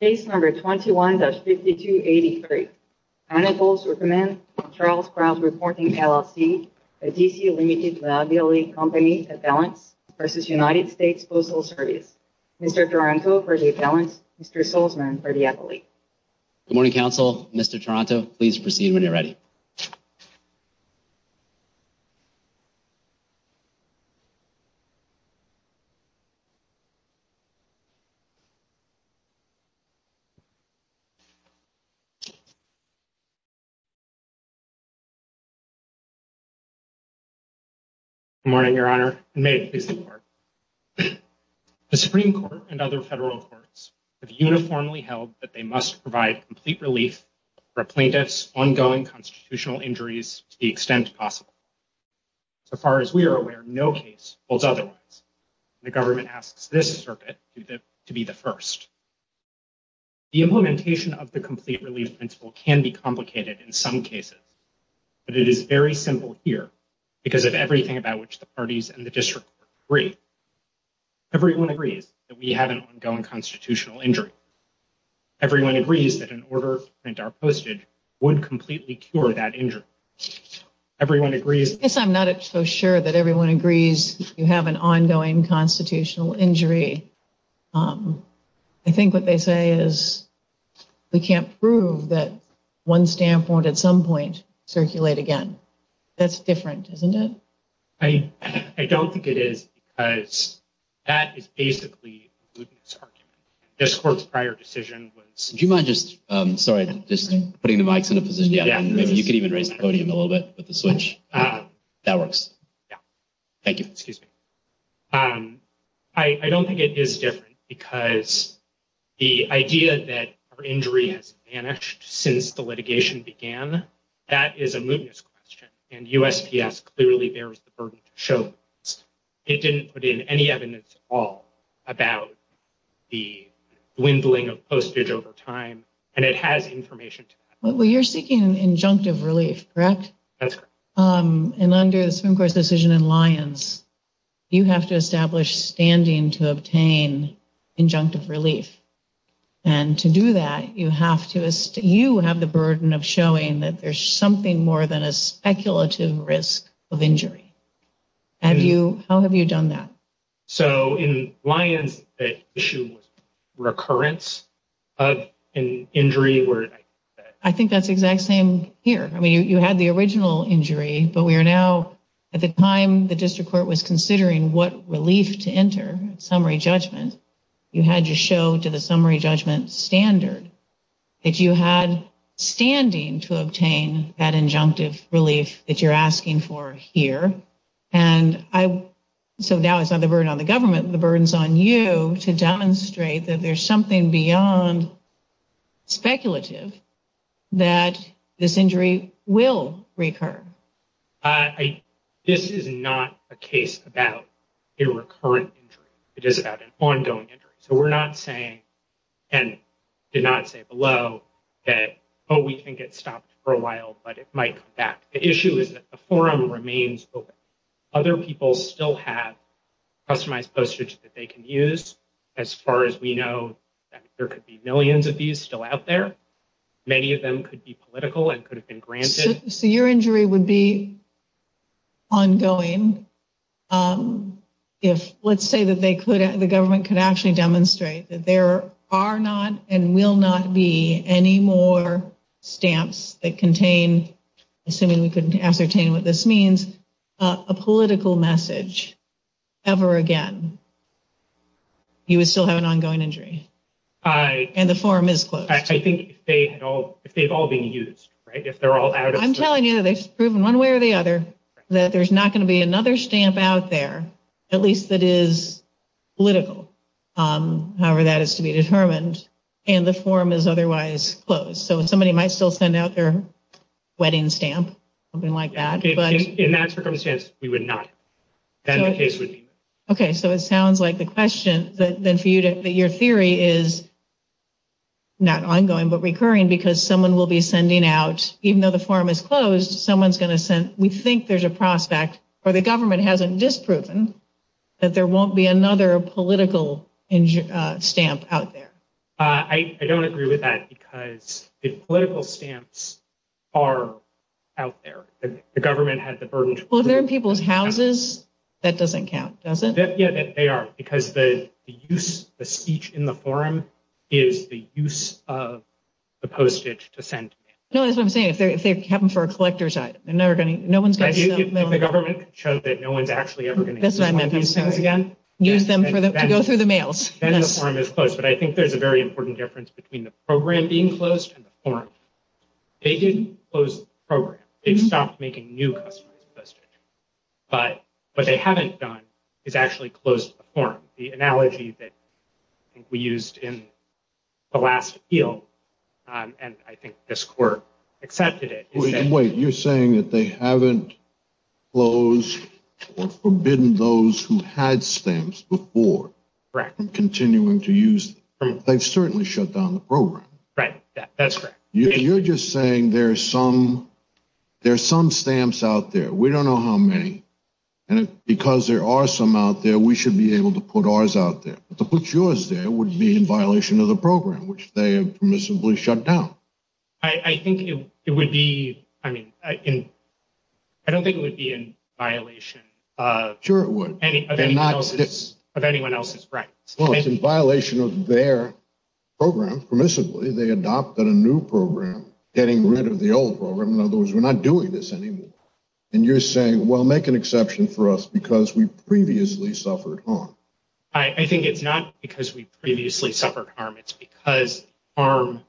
Case number 21-5283. Anatol Zukerman and Charles Krause reporting LLC, DC Limited Liability Company, Appellants, versus United States Postal Service. Mr. Toronto for the Appellants, Mr. Solzmann for the Appellate. Good morning, Council. Mr. Toronto, please proceed when you're ready. Good morning, Your Honor, and may it please the Court. The Supreme Court and other federal courts have uniformly held that they must provide complete relief for a plaintiff's ongoing constitutional injuries to the extent possible. As far as we are aware, no case holds otherwise. The government asks this circuit to be the first. The implementation of the complete relief principle can be complicated in some cases, but it is very simple here because of everything about which the parties and the district agree. Everyone agrees that we have an ongoing constitutional injury. Everyone agrees that an order to print our postage would completely cure that injury. Everyone agrees... I think what they say is we can't prove that one stamp won't, at some point, circulate again. That's different, isn't it? I don't think it is, because that is basically the argument. This Court's prior decision was... Do you mind just... Sorry, just putting the mics in a position. Maybe you could even raise the podium a little bit with the switch. That works. Thank you. Excuse me. I don't think it is different, because the idea that our injury has vanished since the litigation began, that is a mootness question, and USPS clearly bears the burden to show this. It didn't put in any evidence at all about the dwindling of postage over time, and it has information to that. Well, you're seeking an injunctive relief, correct? That's correct. And under the Swim Corps' decision in Lyons, you have to establish standing to obtain injunctive relief. And to do that, you have the burden of showing that there's something more than a speculative risk of injury. How have you done that? So, in Lyons, the issue was recurrence of an injury where... I think that's the exact same here. I mean, you had the original injury, but we are now... At the time the District Court was considering what relief to enter, summary judgment, you had to show to the summary judgment standard that you had standing to obtain that injunctive relief that you're asking for here. And so now it's not the burden on the government, the burden's on you to demonstrate that there's something beyond speculative that this injury will recur. This is not a case about a recurrent injury. It is about an ongoing injury. So we're not saying, and did not say below, that, oh, we can get stopped for a while, but it might come back. The issue is that the forum remains open. Other people still have customized postage that they can use. As far as we know, there could be millions of these still out there. Many of them could be political and could have been granted. So your injury would be ongoing if, let's say, that the government could actually demonstrate that there are not and will not be any more stamps that contain, assuming we can ascertain what this means, a political message ever again. You would still have an ongoing injury. And the forum is closed. I think if they had all, if they've all been used, right, if they're all out. I'm telling you, they've proven one way or the other that there's not going to be another stamp out there, at least that is political. However, that is to be determined. And the forum is otherwise closed. So somebody might still send out their wedding stamp, something like that. In that circumstance, we would not. And the case would be OK, so it sounds like the question that then for you to your theory is. Not ongoing, but recurring because someone will be sending out even though the forum is closed, someone's going to send. We think there's a prospect or the government hasn't disproven that there won't be another political stamp out there. I don't agree with that because the political stamps are out there. The government had the burden. Well, they're in people's houses. That doesn't count, does it? Yeah, they are, because the use, the speech in the forum is the use of the postage to send. No, that's what I'm saying. If they're if they happen for a collector's item, they're never going to. No one's going to. The government showed that no one's actually ever going to use them again. Use them to go through the mails. Then the forum is closed. But I think there's a very important difference between the program being closed and the forum. They didn't close the program. They've stopped making new customized postage. But what they haven't done is actually closed the forum. The analogy that we used in the last appeal and I think this court accepted it. Wait, you're saying that they haven't closed or forbidden those who had stamps before. Correct. Continuing to use them. They've certainly shut down the program. Right. That's correct. You're just saying there's some there's some stamps out there. We don't know how many. And because there are some out there, we should be able to put ours out there. But to put yours there would be in violation of the program, which they have permissibly shut down. I think it would be. I mean, I don't think it would be in violation. Sure it would. Any of anyone else's rights. Well, it's in violation of their program permissibly. They adopted a new program, getting rid of the old program. In other words, we're not doing this anymore. And you're saying, well, make an exception for us because we previously suffered harm. I think it's not because we previously suffered harm. It's because harm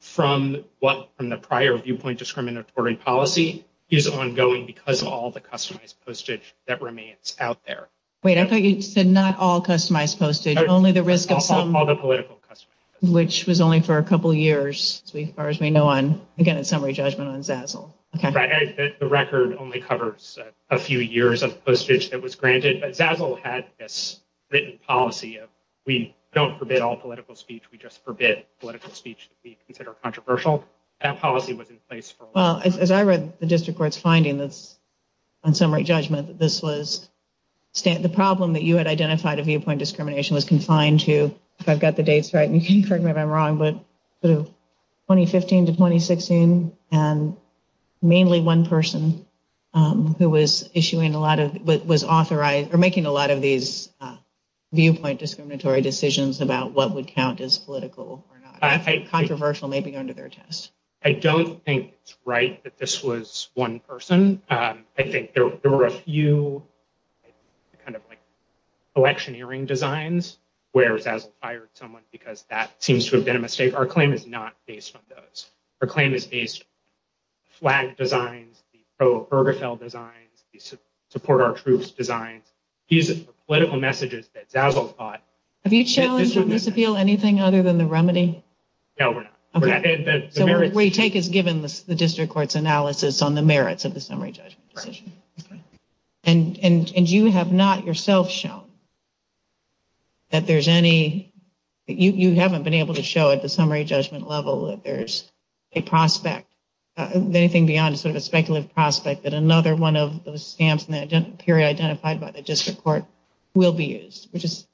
from what from the prior viewpoint, discriminatory policy is ongoing because of all the customized postage that remains out there. Wait, I thought you said not all customized postage, only the risk of some. All the political custom. Which was only for a couple of years, as far as we know on, again, a summary judgment on Zazzle. Right. The record only covers a few years of postage that was granted. But Zazzle had this written policy of we don't forbid all political speech. We just forbid political speech that we consider controversial. That policy was in place for a long time. Well, as I read the district court's findings on summary judgment, this was the problem that you had identified a viewpoint discrimination was confined to, if I've got the dates right, and you can correct me if I'm wrong, but 2015 to 2016. And mainly one person who was issuing a lot of what was authorized or making a lot of these viewpoint discriminatory decisions about what would count as political or not. Controversial, maybe under their test. I don't think it's right that this was one person. I think there were a few, kind of like, electioneering designs where Zazzle fired someone because that seems to have been a mistake. Our claim is not based on those. Our claim is based flag designs, the pro-Bergefell designs, the support our troops designs. These are political messages that Zazzle thought. Have you challenged on this appeal anything other than the remedy? No, we're not. So what we take is given the district court's analysis on the merits of the summary judgment. And you have not yourself shown that there's any, you haven't been able to show at the summary judgment level that there's a prospect, anything beyond sort of a speculative prospect, that another one of those stamps in the period identified by the district court will be used, which is,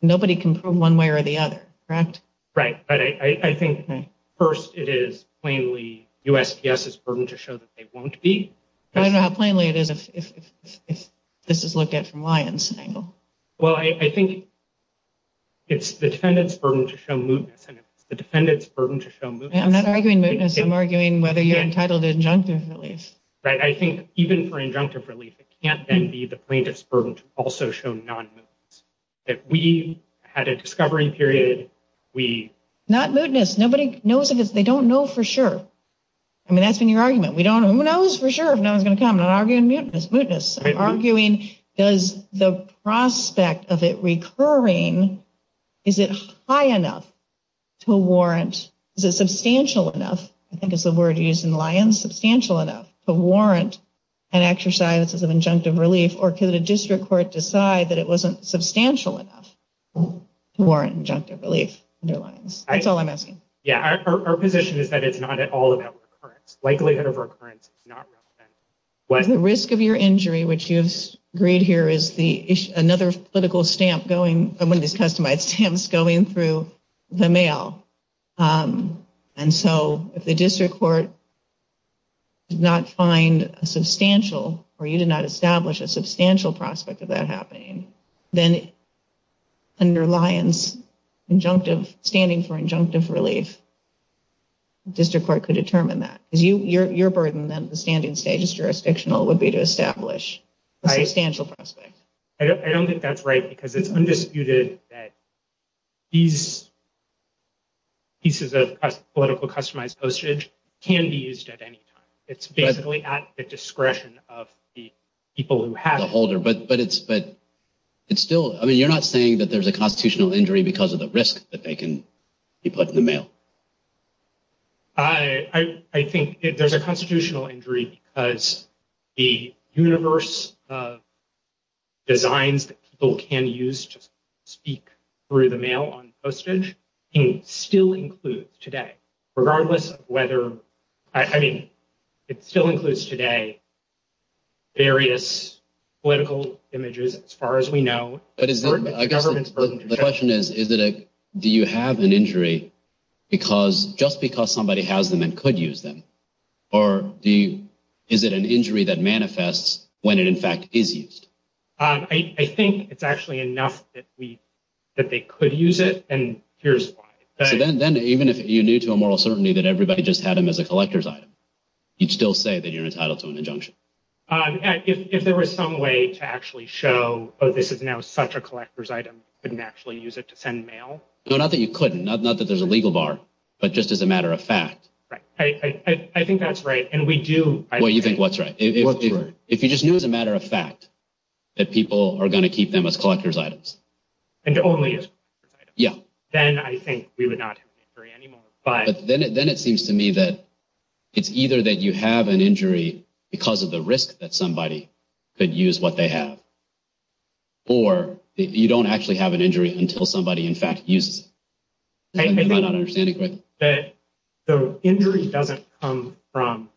nobody can prove one way or the other, correct? Right. But I think first it is plainly USPS's burden to show that they won't be. I don't know how plainly it is if this is looked at from Lyon's angle. Well, I think it's the defendant's burden to show mootness. And it's the defendant's burden to show mootness. I'm not arguing mootness. I'm arguing whether you're entitled to injunctive relief. Right. I think even for injunctive relief, it can't then be the plaintiff's burden to also show that we had a discovery period. We. Not mootness. Nobody knows if it's, they don't know for sure. I mean, that's been your argument. We don't, who knows for sure if no one's going to come. I'm not arguing mootness. I'm arguing, does the prospect of it recurring, is it high enough to warrant, is it substantial enough, I think it's the word used in Lyon, substantial enough to warrant an exercise as an injunctive relief? Or could a district court decide that it wasn't substantial enough to warrant injunctive relief under Lyons? That's all I'm asking. Yeah, our position is that it's not at all about recurrence. Likelihood of recurrence is not relevant. The risk of your injury, which you've agreed here is another political stamp going, one of these customized stamps going through the mail. And so if the district court did not find a substantial, or you did not establish a substantial prospect of that happening, then under Lyons, injunctive, standing for injunctive relief, district court could determine that. Because your burden then at the standing stage is jurisdictional, would be to establish a substantial prospect. I don't think that's right because it's undisputed that these pieces of political customized postage can be used at any time. It's basically at the discretion of the people who have the holder. But it's still, I mean, you're not saying that there's a constitutional injury because of the risk that they can be put in the mail. I think there's a constitutional injury because the universe of designs that people can use to speak through the mail on postage, still includes today, regardless of whether, I mean, it still includes today, various political images, as far as we know. The question is, do you have an injury just because somebody has them and could use them? Or is it an injury that manifests when it in fact is used? I think it's actually enough that they could use it. And here's why. So then even if you knew to a moral certainty that everybody just had them as a collector's item, you'd still say that you're entitled to an injunction. If there was some way to actually show, oh, this is now such a collector's item, you couldn't actually use it to send mail? No, not that you couldn't, not that there's a legal bar, but just as a matter of fact. Right. I think that's right. And we do. Well, you think what's right. If you just knew as a matter of fact, that people are going to keep them as collector's items. And only as collector's items. Then I think we would not have an injury anymore. But then it seems to me that it's either that you have an injury because of the risk that somebody could use what they have. Or you don't actually have an injury until somebody in fact uses it. I think that the injury doesn't come from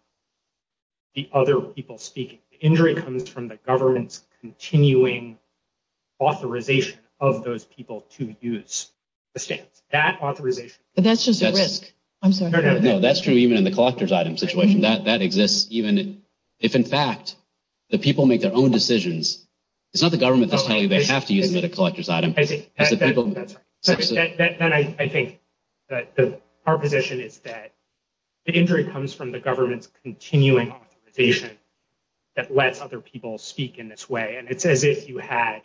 the other people speaking. The injury comes from the government's continuing authorization of those people to use. That authorization. But that's just a risk. I'm sorry. No, that's true. Even in the collector's item situation, that exists. Even if in fact, the people make their own decisions. It's not the government that's telling you they have to use them at a collector's item. Then I think that our position is that the injury comes from the government's continuing authorization that lets other people speak in this way. And it's as if you had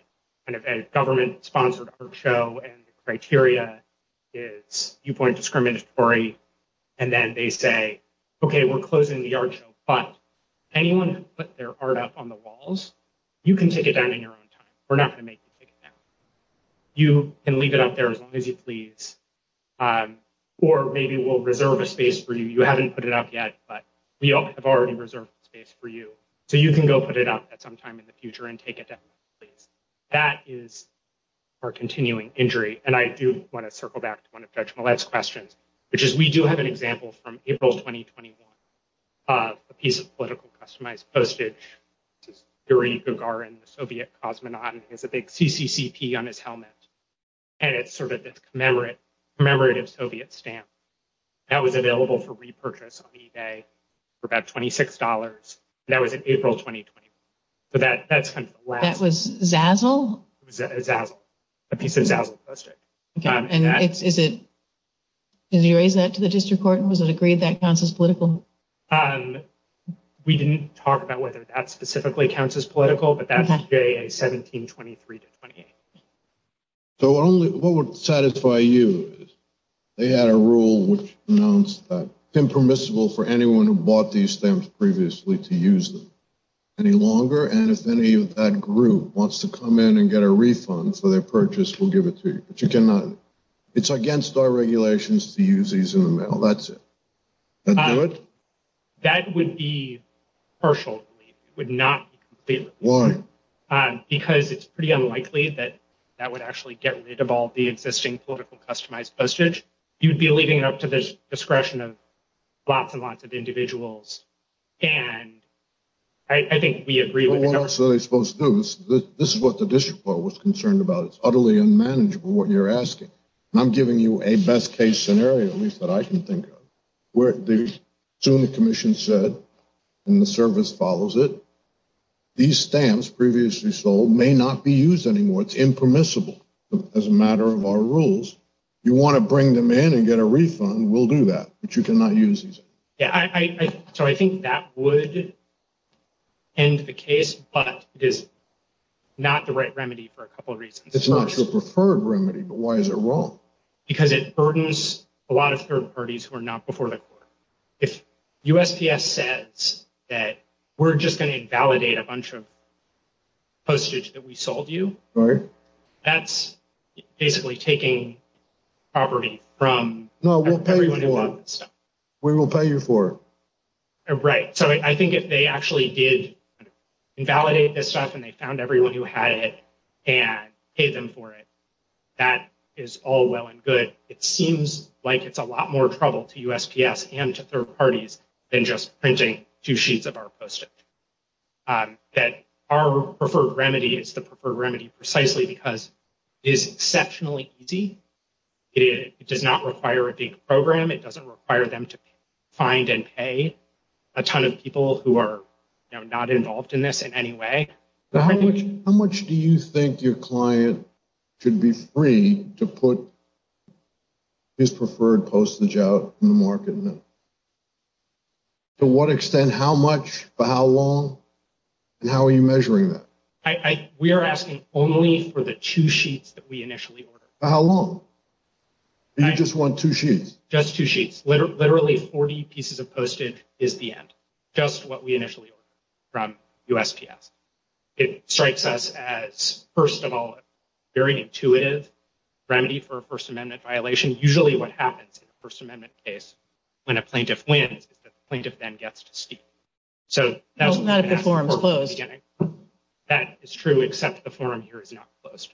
a government-sponsored art show and the criteria is viewpoint discriminatory. And then they say, okay, we're closing the art show. But anyone who put their art up on the walls, you can take it down in your own time. We're not going to make you take it down. You can leave it up there as long as you please. Or maybe we'll reserve a space for you. You haven't put it up yet, but we have already reserved space for you. So you can go put it up at some time in the future and take it down. That is our continuing injury. And I do want to circle back to one of Judge Millett's questions, which is we do have an example from April 2021 of a piece of political customized postage. Yuri Gagarin, the Soviet cosmonaut, and he has a big CCCP on his helmet. And it's sort of this commemorative Soviet stamp that was available for repurchase on eBay for about $26. That was in April 2021. So that's kind of the last one. That was Zazzle? A piece of Zazzle postage. Did you raise that to the district court? And was it agreed that counts as political? We didn't talk about whether that specifically counts as political, but that's GA 1723-28. So what would satisfy you is they had a rule which announced that it's impermissible for anyone who bought these stamps previously to use them. Any longer, and if any of that group wants to come in and get a refund for their purchase, we'll give it to you. But you cannot. It's against our regulations to use these in the mail. That's it. That do it? That would be partial. It would not be complete. Why? Because it's pretty unlikely that that would actually get rid of all the existing political customized postage. You'd be leaving it up to the discretion of lots and lots of individuals. And I think we agree. This is what the district court was concerned about. It's utterly unmanageable what you're asking. I'm giving you a best case scenario, at least that I can think of. Soon the commission said, and the service follows it, these stamps previously sold may not be used anymore. It's impermissible as a matter of our rules. You want to bring them in and get a refund, we'll do that. But you cannot use these. Yeah, so I think that would end the case. But it is not the right remedy for a couple of reasons. It's not your preferred remedy, but why is it wrong? Because it burdens a lot of third parties who are not before the court. If USPS says that we're just going to invalidate a bunch of postage that we sold you, that's basically taking property from everyone who bought that stuff. No, we'll pay for it. We will pay you for it. Right. So I think if they actually did invalidate this stuff and they found everyone who had it and paid them for it, that is all well and good. It seems like it's a lot more trouble to USPS and to third parties than just printing two sheets of our postage. That our preferred remedy is the preferred remedy precisely because it is exceptionally easy. It does not require a big program. It doesn't require them to find and pay a ton of people who are not involved in this in any way. How much do you think your client should be free to put his preferred postage out in the market? To what extent? How much? For how long? And how are you measuring that? We are asking only for the two sheets that we initially ordered. How long? You just want two sheets? Just two sheets. Literally 40 pieces of postage is the end. Just what we initially ordered from USPS. It strikes us as, first of all, a very intuitive remedy for a First Amendment violation. Usually what happens in a First Amendment case, when a plaintiff wins, is that the plaintiff then gets to speak. So that's what we're asking for at the beginning. Not if the forum is closed. That is true, except the forum here is not closed.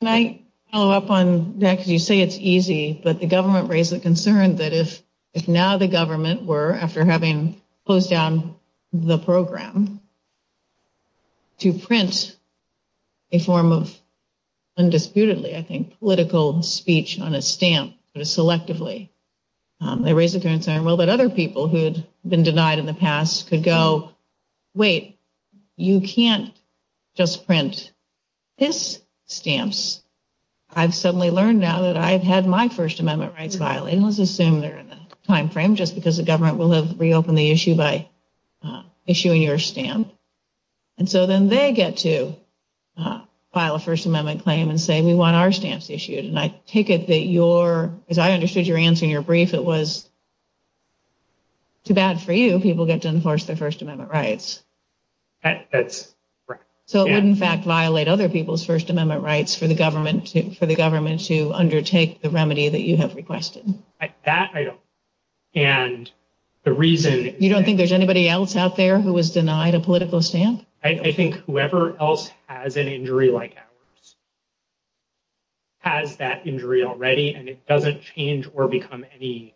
Can I follow up on that? Because you say it's easy. But the government raised the concern that if now the government were, after having closed down the program, to print a form of, undisputedly, I think, political speech on a stamp, selectively. They raised the concern, well, that other people who had been denied in the past could go, wait, you can't just print this stamps. I've suddenly learned now that I've had my First Amendment rights violated. Let's assume they're in the time frame, just because the government will have reopened the issue by issuing your stamp. And so then they get to file a First Amendment claim and say, we want our stamps issued. And I take it that your, as I understood your answer in your brief, it was too bad for you. So it would in fact violate other people's First Amendment rights for the government to undertake the remedy that you have requested. That I don't. And the reason... You don't think there's anybody else out there who was denied a political stamp? I think whoever else has an injury like ours, has that injury already. And it doesn't change or become any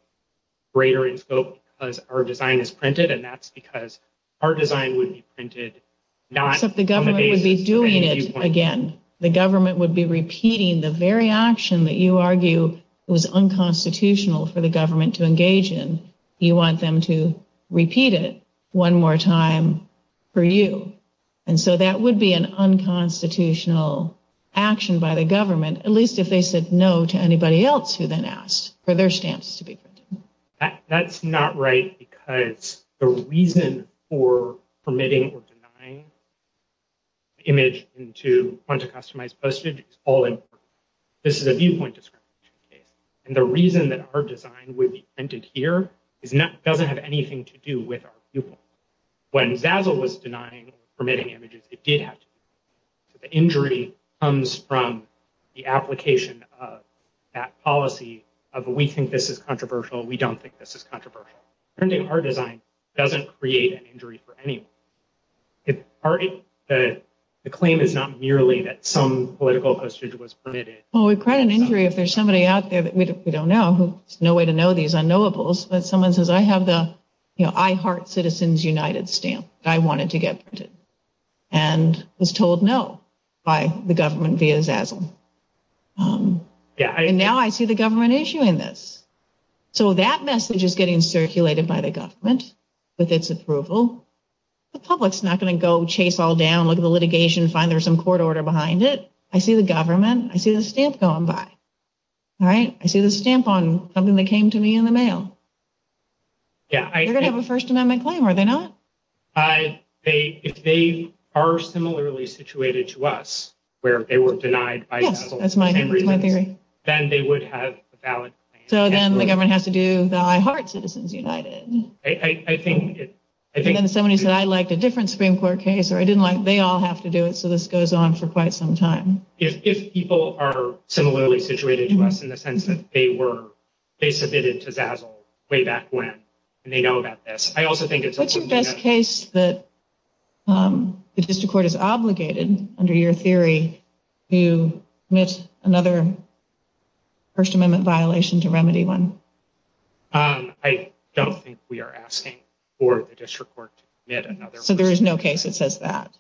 greater in scope because our design is printed. And that's because our design would be printed not on the basis of any viewpoint. Except the government would be doing it again. The government would be repeating the very action that you argue was unconstitutional for the government to engage in. You want them to repeat it one more time for you. And so that would be an unconstitutional action by the government, at least if they said no to anybody else who then asked for their stamps to be printed. That's not right. Because the reason for permitting or denying image into quanta-customized postage is all important. This is a viewpoint discrimination case. And the reason that our design would be printed here doesn't have anything to do with our viewpoint. When Zazzle was denying permitting images, it did have to be. So the injury comes from the application of that policy of we think this is controversial. We don't think this is controversial. Printing our design doesn't create an injury for anyone. The claim is not merely that some political postage was permitted. Well, we've got an injury if there's somebody out there that we don't know. There's no way to know these unknowables. But someone says, I have the I heart Citizens United stamp. I want it to get printed. And was told no by the government via Zazzle. And now I see the government issuing this. So that message is getting circulated by the government with its approval. The public's not going to go chase all down, look at the litigation, find there's some court order behind it. I see the government. I see the stamp going by. All right. I see the stamp on something that came to me in the mail. They're going to have a First Amendment claim, are they not? I, they, if they are similarly situated to us, where they were denied. Yes, that's my theory. Then they would have a valid claim. So then the government has to do the I heart Citizens United. I think it. I think somebody said I liked a different Supreme Court case or I didn't like, they all have to do it. So this goes on for quite some time. If people are similarly situated to us in the sense that they were, they submitted to Zazzle way back when. And they know about this. What's your best case that the district court is obligated under your theory to admit another First Amendment violation to remedy one? I don't think we are asking for the district court to admit another. So there is no case that says that.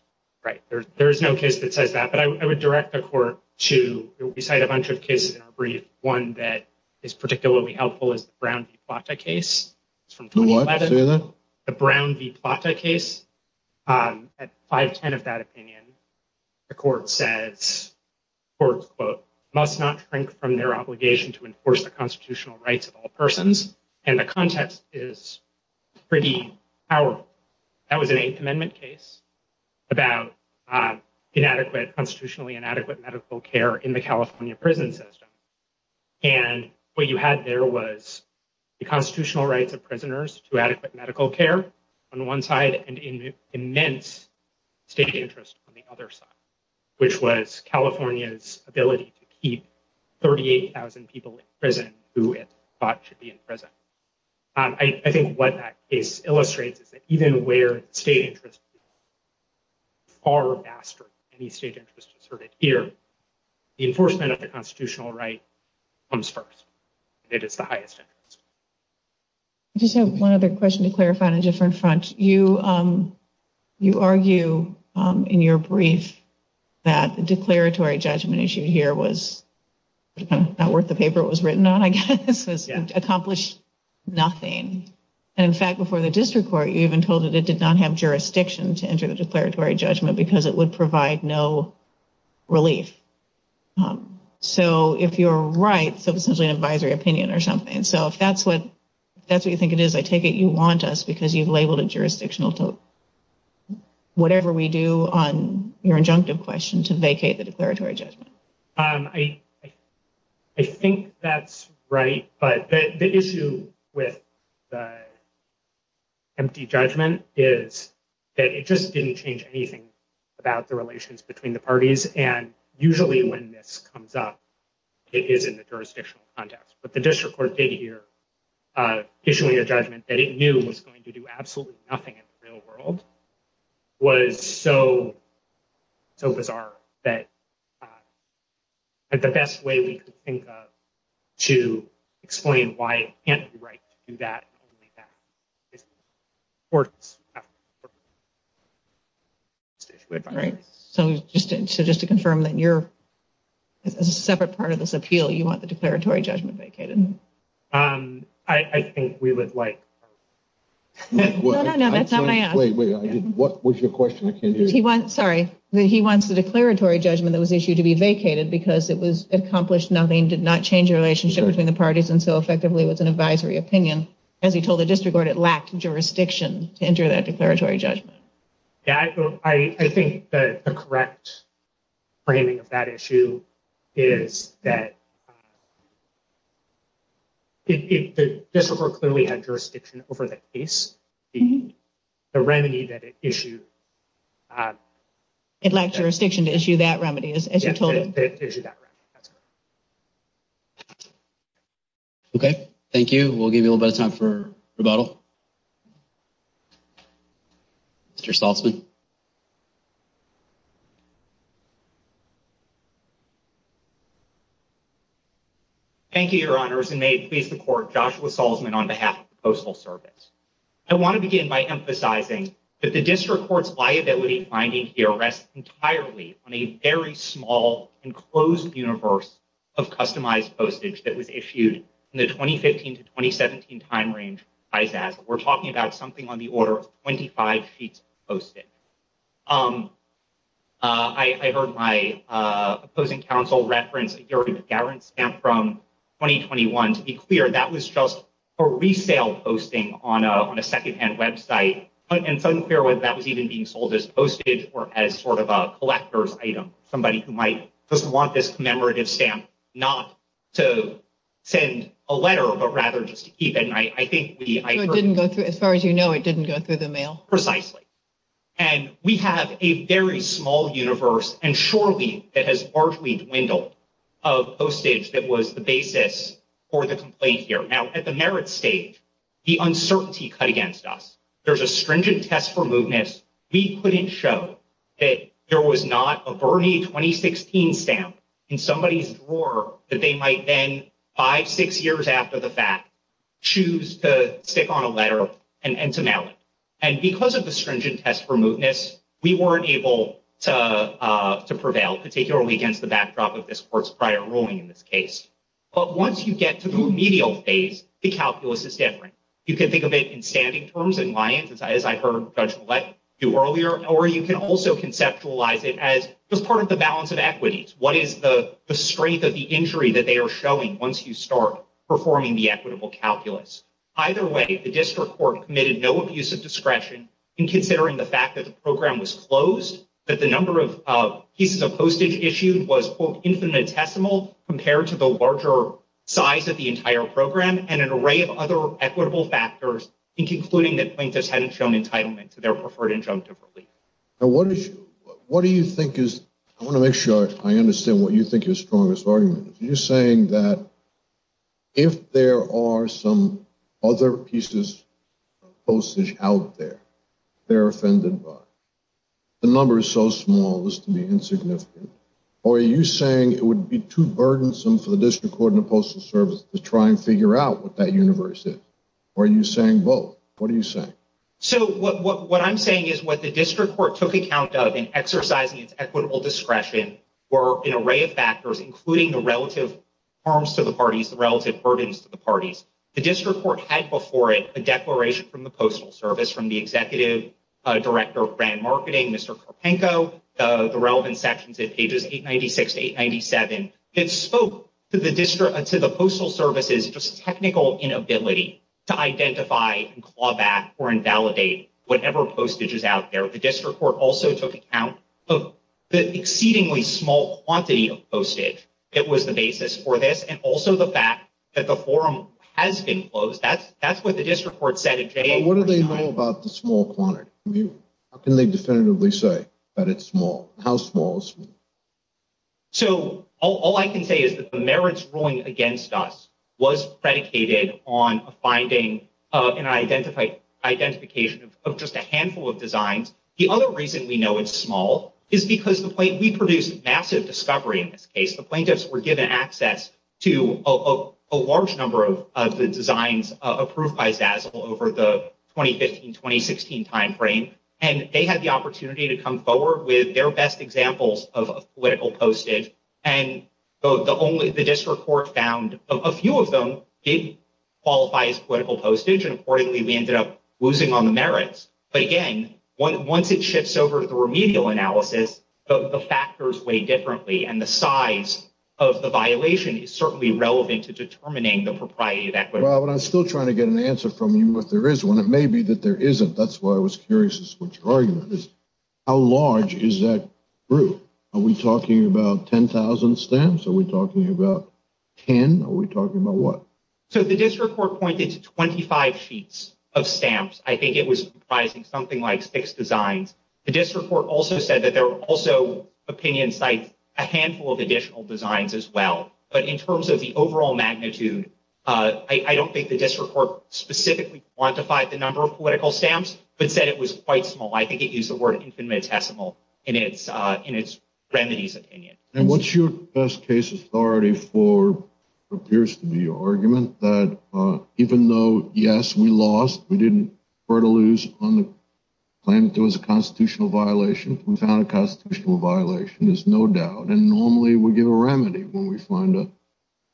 Right. There is no case that says that. But I would direct the court to recite a bunch of cases in our brief. One that is particularly helpful is the Brown v. Plata case. It's from 2011, the Brown v. Plata case. At 510 of that opinion, the court says, quote, quote, must not shrink from their obligation to enforce the constitutional rights of all persons. And the context is pretty powerful. That was an Eighth Amendment case about inadequate, constitutionally inadequate medical care in the California prison system. And what you had there was the constitutional rights of prisoners to adequate medical care on one side and immense state interest on the other side, which was California's ability to keep 38,000 people in prison who it thought should be in prison. I think what that case illustrates is that even where state interest is far faster than any state interest asserted here, the enforcement of the constitutional right comes first. It is the highest interest. I just have one other question to clarify on a different front. You argue in your brief that the declaratory judgment issue here was not worth the paper it was written on, I guess. It accomplished nothing. And in fact, before the district court, you even told it it did not have jurisdiction to enter the declaratory judgment because it would provide no relief. So if you're right, so essentially an advisory opinion or something. So if that's what you think it is, I take it you want us because you've labeled it jurisdictional whatever we do on your injunctive question to vacate the declaratory judgment. I think that's right. But the issue with the empty judgment is that it just didn't change anything about the relations between the parties. And usually when this comes up, it is in the jurisdictional context. But the district court did here, issuing a judgment that it knew was going to do absolutely nothing in the real world, was so bizarre that the best way we could think of to explain why it can't be right to do that is courts. Right. So just to confirm that you're a separate part of this appeal, you want the declaratory judgment vacated? I think we would like... No, no, no, that's not what I asked. Wait, wait, what was your question? I can't hear you. Sorry. He wants the declaratory judgment that was issued to be vacated because it was accomplished nothing, did not change the relationship between the parties and so effectively was an advisory opinion. As he told the district court, it lacked jurisdiction to enter that declaratory judgment. Yeah, I think the correct framing of that issue is that the district court clearly had jurisdiction over the case, the remedy that it issued. It lacked jurisdiction to issue that remedy, as you told it. Yeah, to issue that remedy. That's correct. Okay, thank you. We'll give you a little bit of time for rebuttal. Mr. Saltzman. Thank you, your honors, and may it please the court, Joshua Saltzman on behalf of the Postal Service. I want to begin by emphasizing that the district court's liability finding here rests entirely on a very small, enclosed universe of customized postage that was issued in the 2015 to 2017 time range by Zazzle. We're talking about something on the order of 25 sheets of postage. I heard my opposing counsel reference a guarantee stamp from 2021. To be clear, that was just a resale posting on a secondhand website, and it's unclear whether that was even being sold as postage or as sort of a collector's item. Somebody who might just want this commemorative stamp not to send a letter, but rather just to keep it. I think we... So it didn't go through, as far as you know, it didn't go through the mail. Precisely. And we have a very small universe, and surely that has largely dwindled, of postage that was the basis for the complaint here. Now, at the merit stage, the uncertainty cut against us. There's a stringent test for mootness. We couldn't show that there was not a Bernie 2016 stamp in somebody's drawer that they might then, five, six years after the fact, choose to stick on a letter and to mail it. And because of the stringent test for mootness, we weren't able to prevail, particularly against the backdrop of this court's prior ruling in this case. But once you get to the remedial phase, the calculus is different. You can think of it in standing terms, in liens, as I heard Judge Collette do earlier, or you can also conceptualize it as just part of the balance of equities. What is the strength of the injury that they are showing once you start performing the equitable calculus? Either way, the district court committed no abuse of discretion in considering the fact that the program was closed, that the number of pieces of postage issued was, quote, infinitesimal compared to the larger size of the entire program, and an array of other equitable factors in concluding that plaintiffs hadn't shown entitlement to their preferred injunctive relief. Now, what do you think is... I want to make sure I understand what you think your strongest argument is. You're saying that if there are some other pieces of postage out there they're offended by, the number is so small it's to be insignificant, or are you saying it would be too burdensome for the district court and the postal service to try and figure out what that universe is? Or are you saying both? What are you saying? So what I'm saying is what the district court took account of in exercising its equitable discretion were an array of factors, including the relative harms to the parties, the relative burdens to the parties. The district court had before it a declaration from the postal service, from the executive director of brand marketing, Mr. Kropenko, the relevant sections at pages 896 to 897. It spoke to the postal service's just technical inability to identify and claw back or invalidate whatever postage is out there. The district court also took account of the exceedingly small quantity of postage that was the basis for this, and also the fact that the forum has been closed. That's what the district court said at... What do they know about the small quantity? How can they definitively say that it's small? How small is it? So all I can say is that the merits ruling against us was predicated on a finding of identification of just a handful of designs. The other reason we know it's small is because we produced massive discovery in this case. The plaintiffs were given access to a large number of the designs approved by Zazzle over the 2015-2016 timeframe, and they had the opportunity to come forward with their best examples of political postage. And the district court found a few of them did qualify as political postage, and according to them, we ended up losing on the merits. But again, once it shifts over to the remedial analysis, the factors weigh differently, and the size of the violation is certainly relevant to determining the propriety of equity. Well, but I'm still trying to get an answer from you if there is one. It may be that there isn't. That's why I was curious as to what your argument is. How large is that group? Are we talking about 10,000 stamps? Are we talking about 10? Are we talking about what? So the district court pointed to 25 sheets of stamps. I think it was comprising something like six designs. The district court also said that there were also opinion sites, a handful of additional designs as well. But in terms of the overall magnitude, I don't think the district court specifically quantified the number of political stamps, but said it was quite small. I think it used the word infinitesimal in its remedies opinion. And what's your best case authority for what appears to be your argument? That even though, yes, we lost, we didn't prefer to lose on the claim that there was a constitutional violation, we found a constitutional violation. There's no doubt. And normally, we give a remedy when we find a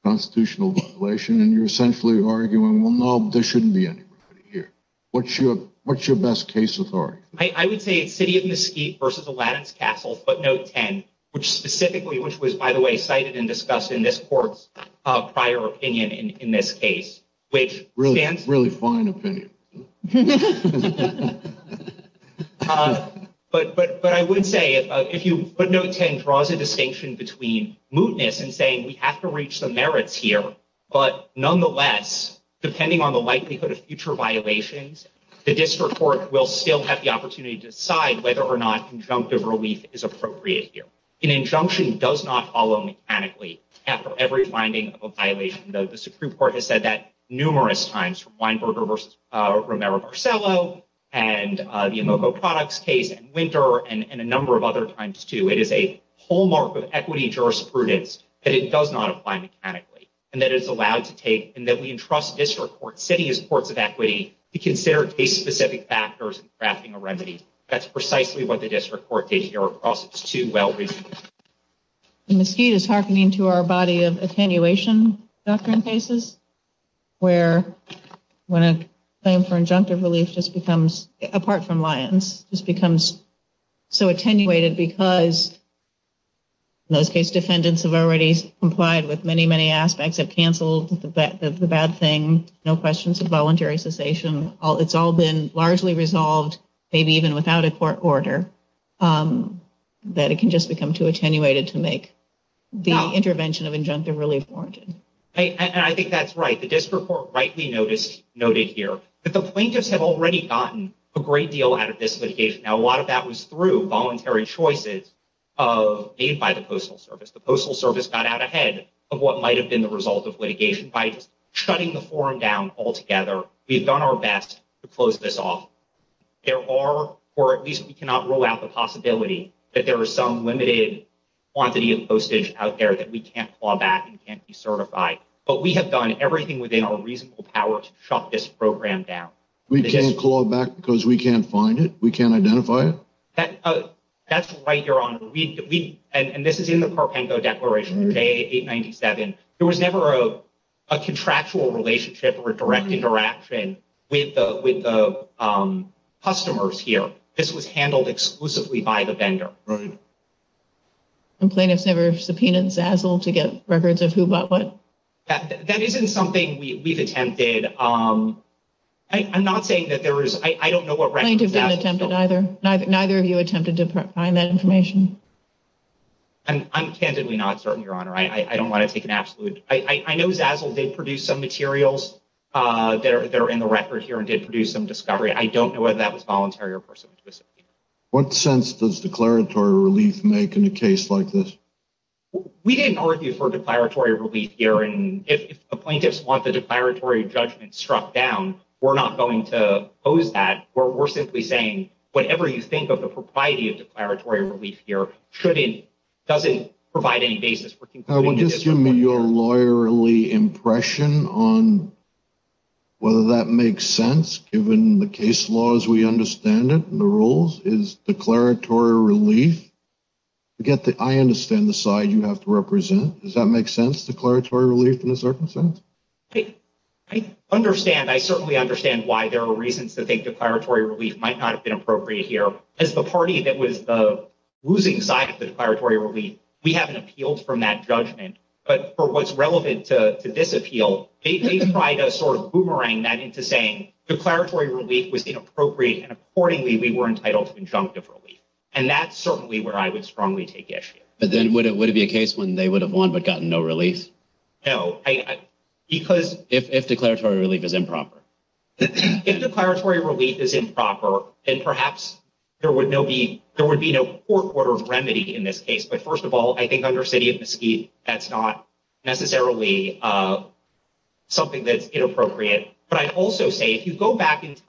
constitutional violation. And you're essentially arguing, well, no, there shouldn't be any remedy here. What's your best case authority? I would say it's City of Mesquite versus Aladdin's Castle, footnote 10, which specifically, which was, by the way, cited and discussed in this court's prior opinion in this case, which stands. Really fine opinion. But I would say if you, footnote 10 draws a distinction between mootness and saying we have to reach the merits here. But nonetheless, depending on the likelihood of future violations, the district court will still have the opportunity to decide whether or not injunctive relief is appropriate here. An injunction does not follow mechanically after every finding of a violation, though the Supreme Court has said that numerous times from Weinberger versus Romero-Barcello and the Imoco products case and Winter and a number of other times, too. It is a hallmark of equity jurisprudence that it does not apply mechanically and that it is allowed to take and that we entrust district court sitting as courts of equity to consider case-specific factors in crafting a remedy. That's precisely what the district court did here across its two well-received cases. Mesquite is hearkening to our body of attenuation doctrine cases, where when a claim for injunctive relief just becomes, apart from Lyons, just becomes so attenuated because in those cases defendants have already complied with many, many aspects, have canceled the bad thing, no questions of voluntary cessation. It's all been largely resolved, maybe even without a court order, that it can just become too attenuated to make the intervention of injunctive relief warranted. And I think that's right. The district court rightly noted here that the plaintiffs have already gotten a great deal out of this litigation. Now, a lot of that was through voluntary choices made by the Postal Service. The Postal Service got out ahead of what might have been the result of litigation by just shutting the forum down altogether. We've done our best to close this off. There are, or at least we cannot rule out the possibility, that there is some limited quantity of postage out there that we can't claw back and can't decertify. But we have done everything within our reasonable power to shut this program down. We can't claw back because we can't find it? We can't identify it? That's right, Your Honor. And this is in the Carpengo Declaration, J897. There was never a contractual relationship or direct interaction with the customers here. This was handled exclusively by the vendor. And plaintiffs never subpoenaed Zazzle to get records of who bought what? That isn't something we've attempted. I'm not saying that there is. I don't know what records Zazzle... Plaintiffs didn't attempt it either. Neither of you attempted to find that information? I'm candidly not certain, Your Honor. I don't want to take an absolute... I know Zazzle did produce some materials that are in the record here and did produce some discovery. I don't know whether that was voluntary or personal. What sense does declaratory relief make in a case like this? We didn't argue for declaratory relief here. And if the plaintiffs want the declaratory judgment struck down, we're not going to oppose that. We're simply saying whatever you think of the propriety of declaratory relief here doesn't provide any basis. We're concluding... Will you just give me your lawyerly impression on whether that makes sense, given the case laws we understand it and the rules? Is declaratory relief... Again, I understand the side you have to represent. Does that make sense, declaratory relief in this circumstance? I understand. I certainly understand why there are reasons to think declaratory relief might not have been appropriate here. As the party that was the losing side of the declaratory relief, we haven't appealed from that judgment. But for what's relevant to this appeal, they tried to sort of boomerang that into saying declaratory relief was inappropriate and accordingly we were entitled to injunctive relief. And that's certainly where I would strongly take issue. But then would it be a case when they would have won but gotten no relief? No, because... If declaratory relief is improper. If declaratory relief is improper, then perhaps there would be no court order of remedy in this case. But first of all, I think under City of Mesquite, that's not necessarily something that's inappropriate. But I'd also say, if you go back in time,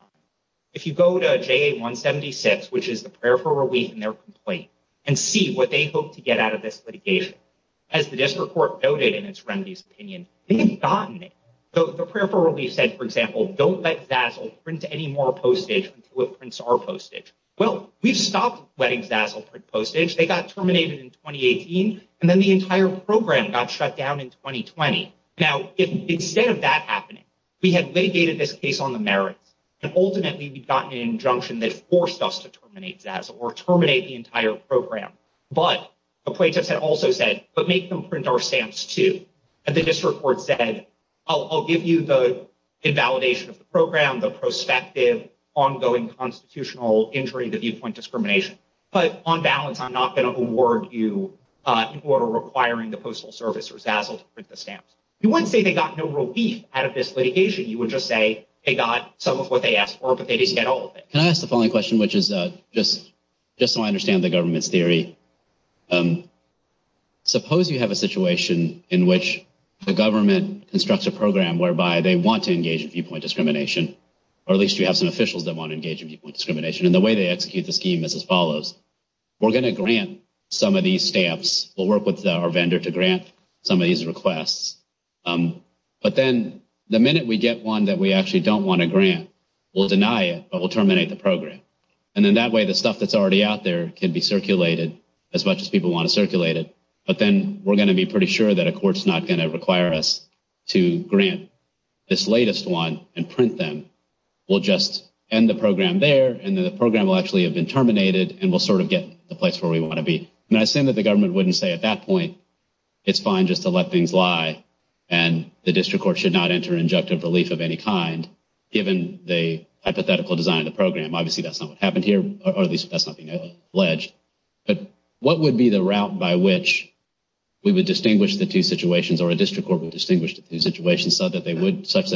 if you go to JA-176, which is the prayer for relief in their complaint, and see what they hope to get out of this litigation, as the district court noted in its remedies opinion, they have gotten it. The prayer for relief said, for example, don't let Zazzle print any more postage until it prints our postage. Well, we've stopped letting Zazzle print postage. They got terminated in 2018, and then the entire program got shut down in 2020. Now, instead of that happening, we had litigated this case on the merits, and ultimately we'd gotten an injunction that forced us to terminate Zazzle or terminate the entire program. But the plaintiffs had also said, but make them print our stamps too. The district court said, I'll give you the invalidation of the program, the prospective ongoing constitutional injury, the viewpoint discrimination. But on balance, I'm not going to award you in order requiring the Postal Service or Zazzle to print the stamps. You wouldn't say they got no relief out of this litigation. You would just say they got some of what they asked for, but they didn't get all of it. Can I ask the following question, which is just so I understand the government's theory. Suppose you have a situation in which the government constructs a program whereby they want to engage in viewpoint discrimination, or at least you have some officials that want to engage in viewpoint discrimination, and the way they execute the scheme is as follows. We're going to grant some of these stamps. We'll work with our vendor to grant some of these requests. But then the minute we get one that we actually don't want to grant, we'll deny it, but we'll terminate the program. And then that way, the stuff that's already out there can be circulated as much as people want to circulate it. But then we're going to be pretty sure that a court's not going to require us to grant this latest one and print them. We'll just end the program there, and then the program will actually have been terminated, and we'll sort of get the place where we want to be. And I assume that the government wouldn't say at that point, it's fine just to let things lie, and the district court should not enter injunctive relief of any kind, given the hypothetical design of the program. Obviously, that's not what happened here, or at least that's not being alleged. But what would be the route by which we would distinguish the two situations, or a district court would distinguish the two situations such that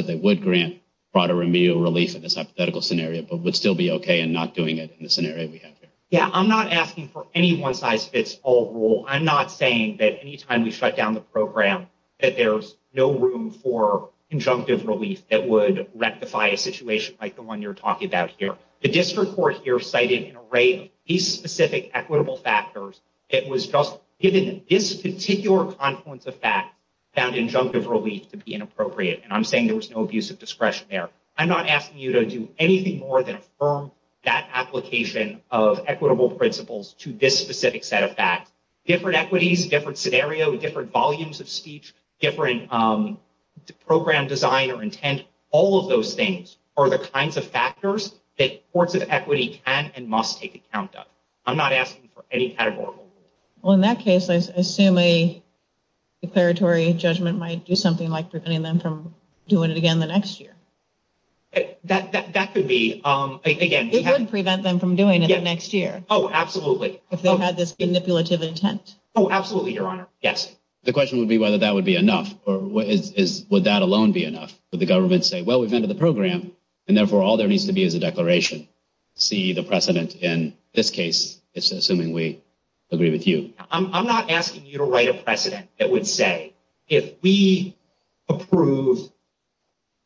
they would grant broader remedial relief in this hypothetical scenario, but would still be OK in not doing it in the scenario we have here? Yeah, I'm not asking for any one-size-fits-all rule. I'm not saying that any time we shut down the program that there's no room for injunctive relief that would rectify a situation like the one you're talking about here. The district court here cited an array of these specific equitable factors. It was just given this particular confluence of facts found injunctive relief to be inappropriate, and I'm saying there was no abuse of discretion there. I'm not asking you to do anything more than affirm that application of equitable principles to this specific set of facts. Different equities, different scenario, different volumes of speech, different program design or intent, all of those things are the kinds of factors that courts of equity can and must take account of. I'm not asking for any categorical rule. Well, in that case, I assume a declaratory judgment might do something like preventing them from doing it again the next year. That could be, again, It would prevent them from doing it the next year. Oh, absolutely. If they had this manipulative intent. Oh, absolutely, Your Honor. Yes. The question would be whether that would be enough, or would that alone be enough? Would the government say, well, we've entered the program, and therefore, all there needs to be is a declaration. See the precedent in this case. It's assuming we agree with you. I'm not asking you to write a precedent that would say, if we approve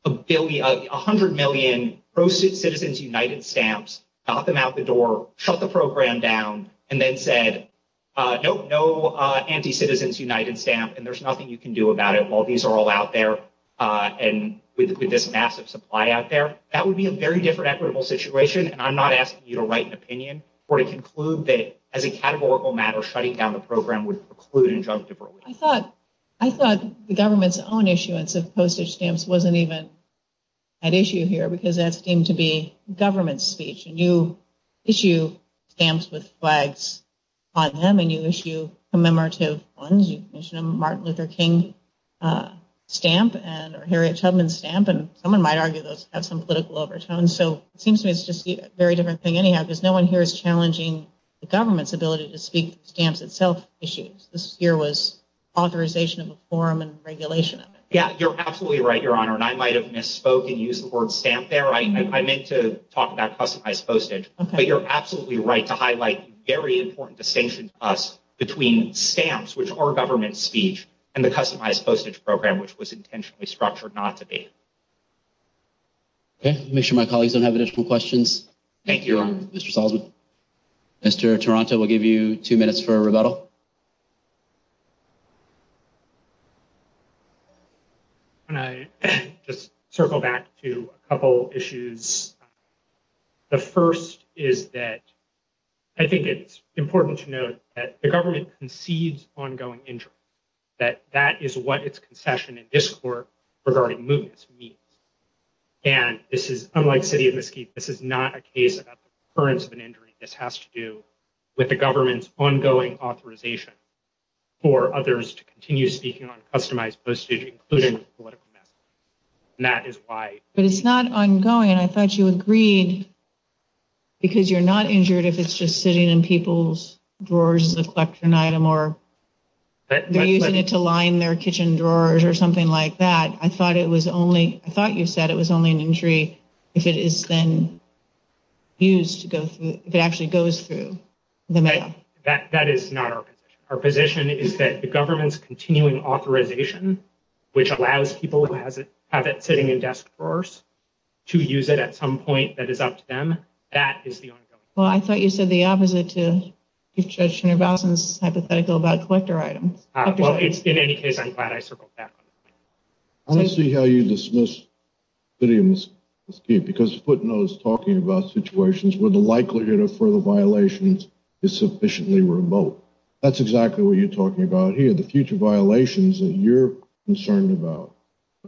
100 million pro-Citizens United stamps, knock them out the door, shut the program down, and then said, nope, no anti-Citizens United stamp, and there's nothing you can do about it while these are all out and with this massive supply out there. That would be a very different equitable situation. And I'm not asking you to write an opinion or to conclude that, as a categorical matter, shutting down the program would preclude injunctive ruling. I thought the government's own issuance of postage stamps wasn't even at issue here, because that seemed to be government speech. And you issue stamps with flags on them, and you issue commemorative ones. Martin Luther King stamp and Harriet Tubman stamp, and someone might argue those have some political overtones. So it seems to me it's just a very different thing anyhow, because no one here is challenging the government's ability to speak stamps itself issues. This here was authorization of a forum and regulation of it. Yeah, you're absolutely right, Your Honor. And I might have misspoke and used the word stamp there. I meant to talk about customized postage. But you're absolutely right to highlight a very important distinction to us between stamps, which are government speech, and the customized postage program, which was intentionally structured not to be. Okay, make sure my colleagues don't have additional questions. Thank you, Your Honor. Mr. Salzman. Mr. Toronto, we'll give you two minutes for a rebuttal. Can I just circle back to a couple issues? The first is that I think it's important to note that the government concedes ongoing injury, that that is what its concession and discord regarding movements means. And this is unlike City of Mesquite. This is not a case about the occurrence of an injury. This has to do with the government's ongoing authorization for others to continue speaking on customized postage, including political message, and that is why. But it's not ongoing. I thought you agreed because you're not injured if it's just sitting in people's drawers as a collection item, or they're using it to line their kitchen drawers or something like that. I thought it was only, I thought you said it was only an injury if it is then used to go through, if it actually goes through the mail. That is not our position. Our position is that the government's continuing authorization, which allows people who have it sitting in desk drawers to use it at some point that is up to them. That is the ongoing. Well, I thought you said the opposite to Judge Shinervason's hypothetical about collector items. Well, it's in any case, I'm glad I circled back. I don't see how you dismiss City of Mesquite because footnotes talking about situations where the likelihood of further violations is sufficiently remote. That's exactly what you're talking about here. The future violations that you're concerned about,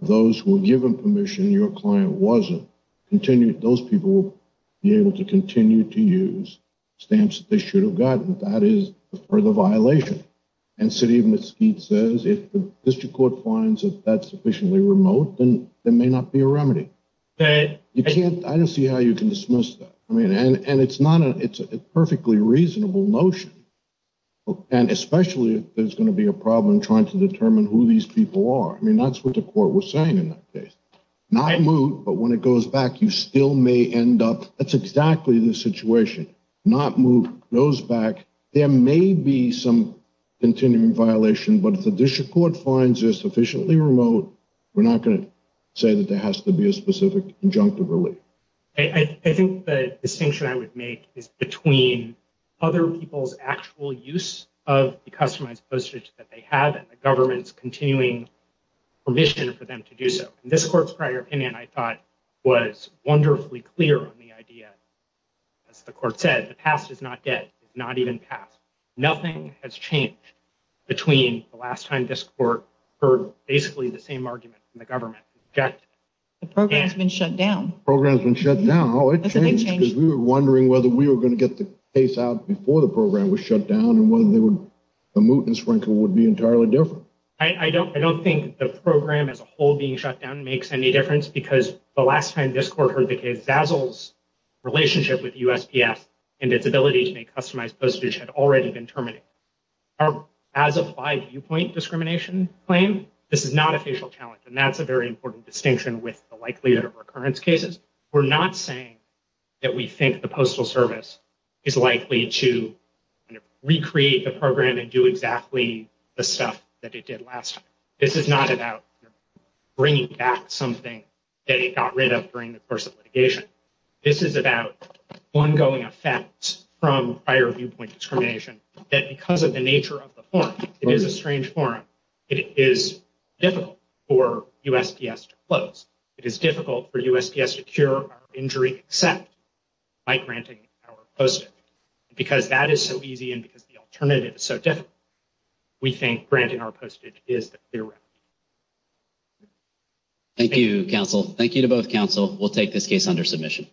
those who were given permission, your client wasn't, those people will be able to continue to use stamps that they should have gotten. That is a further violation. And City of Mesquite says if the district court finds that that's sufficiently remote, then there may not be a remedy. I don't see how you can dismiss that. And it's a perfectly reasonable notion. And especially if there's going to be a problem trying to determine who these people are. I mean, that's what the court was saying in that case. Not move, but when it goes back, you still may end up. That's exactly the situation. Not move, goes back. There may be some continuing violation, but if the district court finds it sufficiently remote, we're not going to say that there has to be a specific injunctive relief. I think the distinction I would make is between other people's actual use of the customized postage that they have and the government's continuing permission for them to do so. And this court's prior opinion, I thought, was wonderfully clear on the idea. As the court said, the past is not dead. It's not even past. Nothing has changed between the last time this court heard basically the same argument from the government. The program's been shut down. Program's been shut down. It changed because we were wondering whether we were going to get the case out before the program was shut down and whether the moot and sprinkler would be entirely different. I don't think the program as a whole being shut down makes any difference because the last time this court heard the case, Zazzle's relationship with USPS and its ability to make customized postage had already been terminated. Our as-applied viewpoint discrimination claim, this is not a facial challenge, and that's a very important distinction with the likelihood of recurrence cases. We're not saying that we think the Postal Service is likely to recreate the program and do exactly the stuff that it did last time. This is not about bringing back something that it got rid of during the course of litigation. This is about ongoing effects from prior viewpoint discrimination that because of the nature of the forum, it is a strange forum, it is difficult for USPS to close. It is difficult for USPS to cure our injury except by granting our postage. Because that is so easy and because the alternative is so difficult, we think granting our postage is the clear route. Thank you, counsel. Thank you to both counsel. We'll take this case under submission.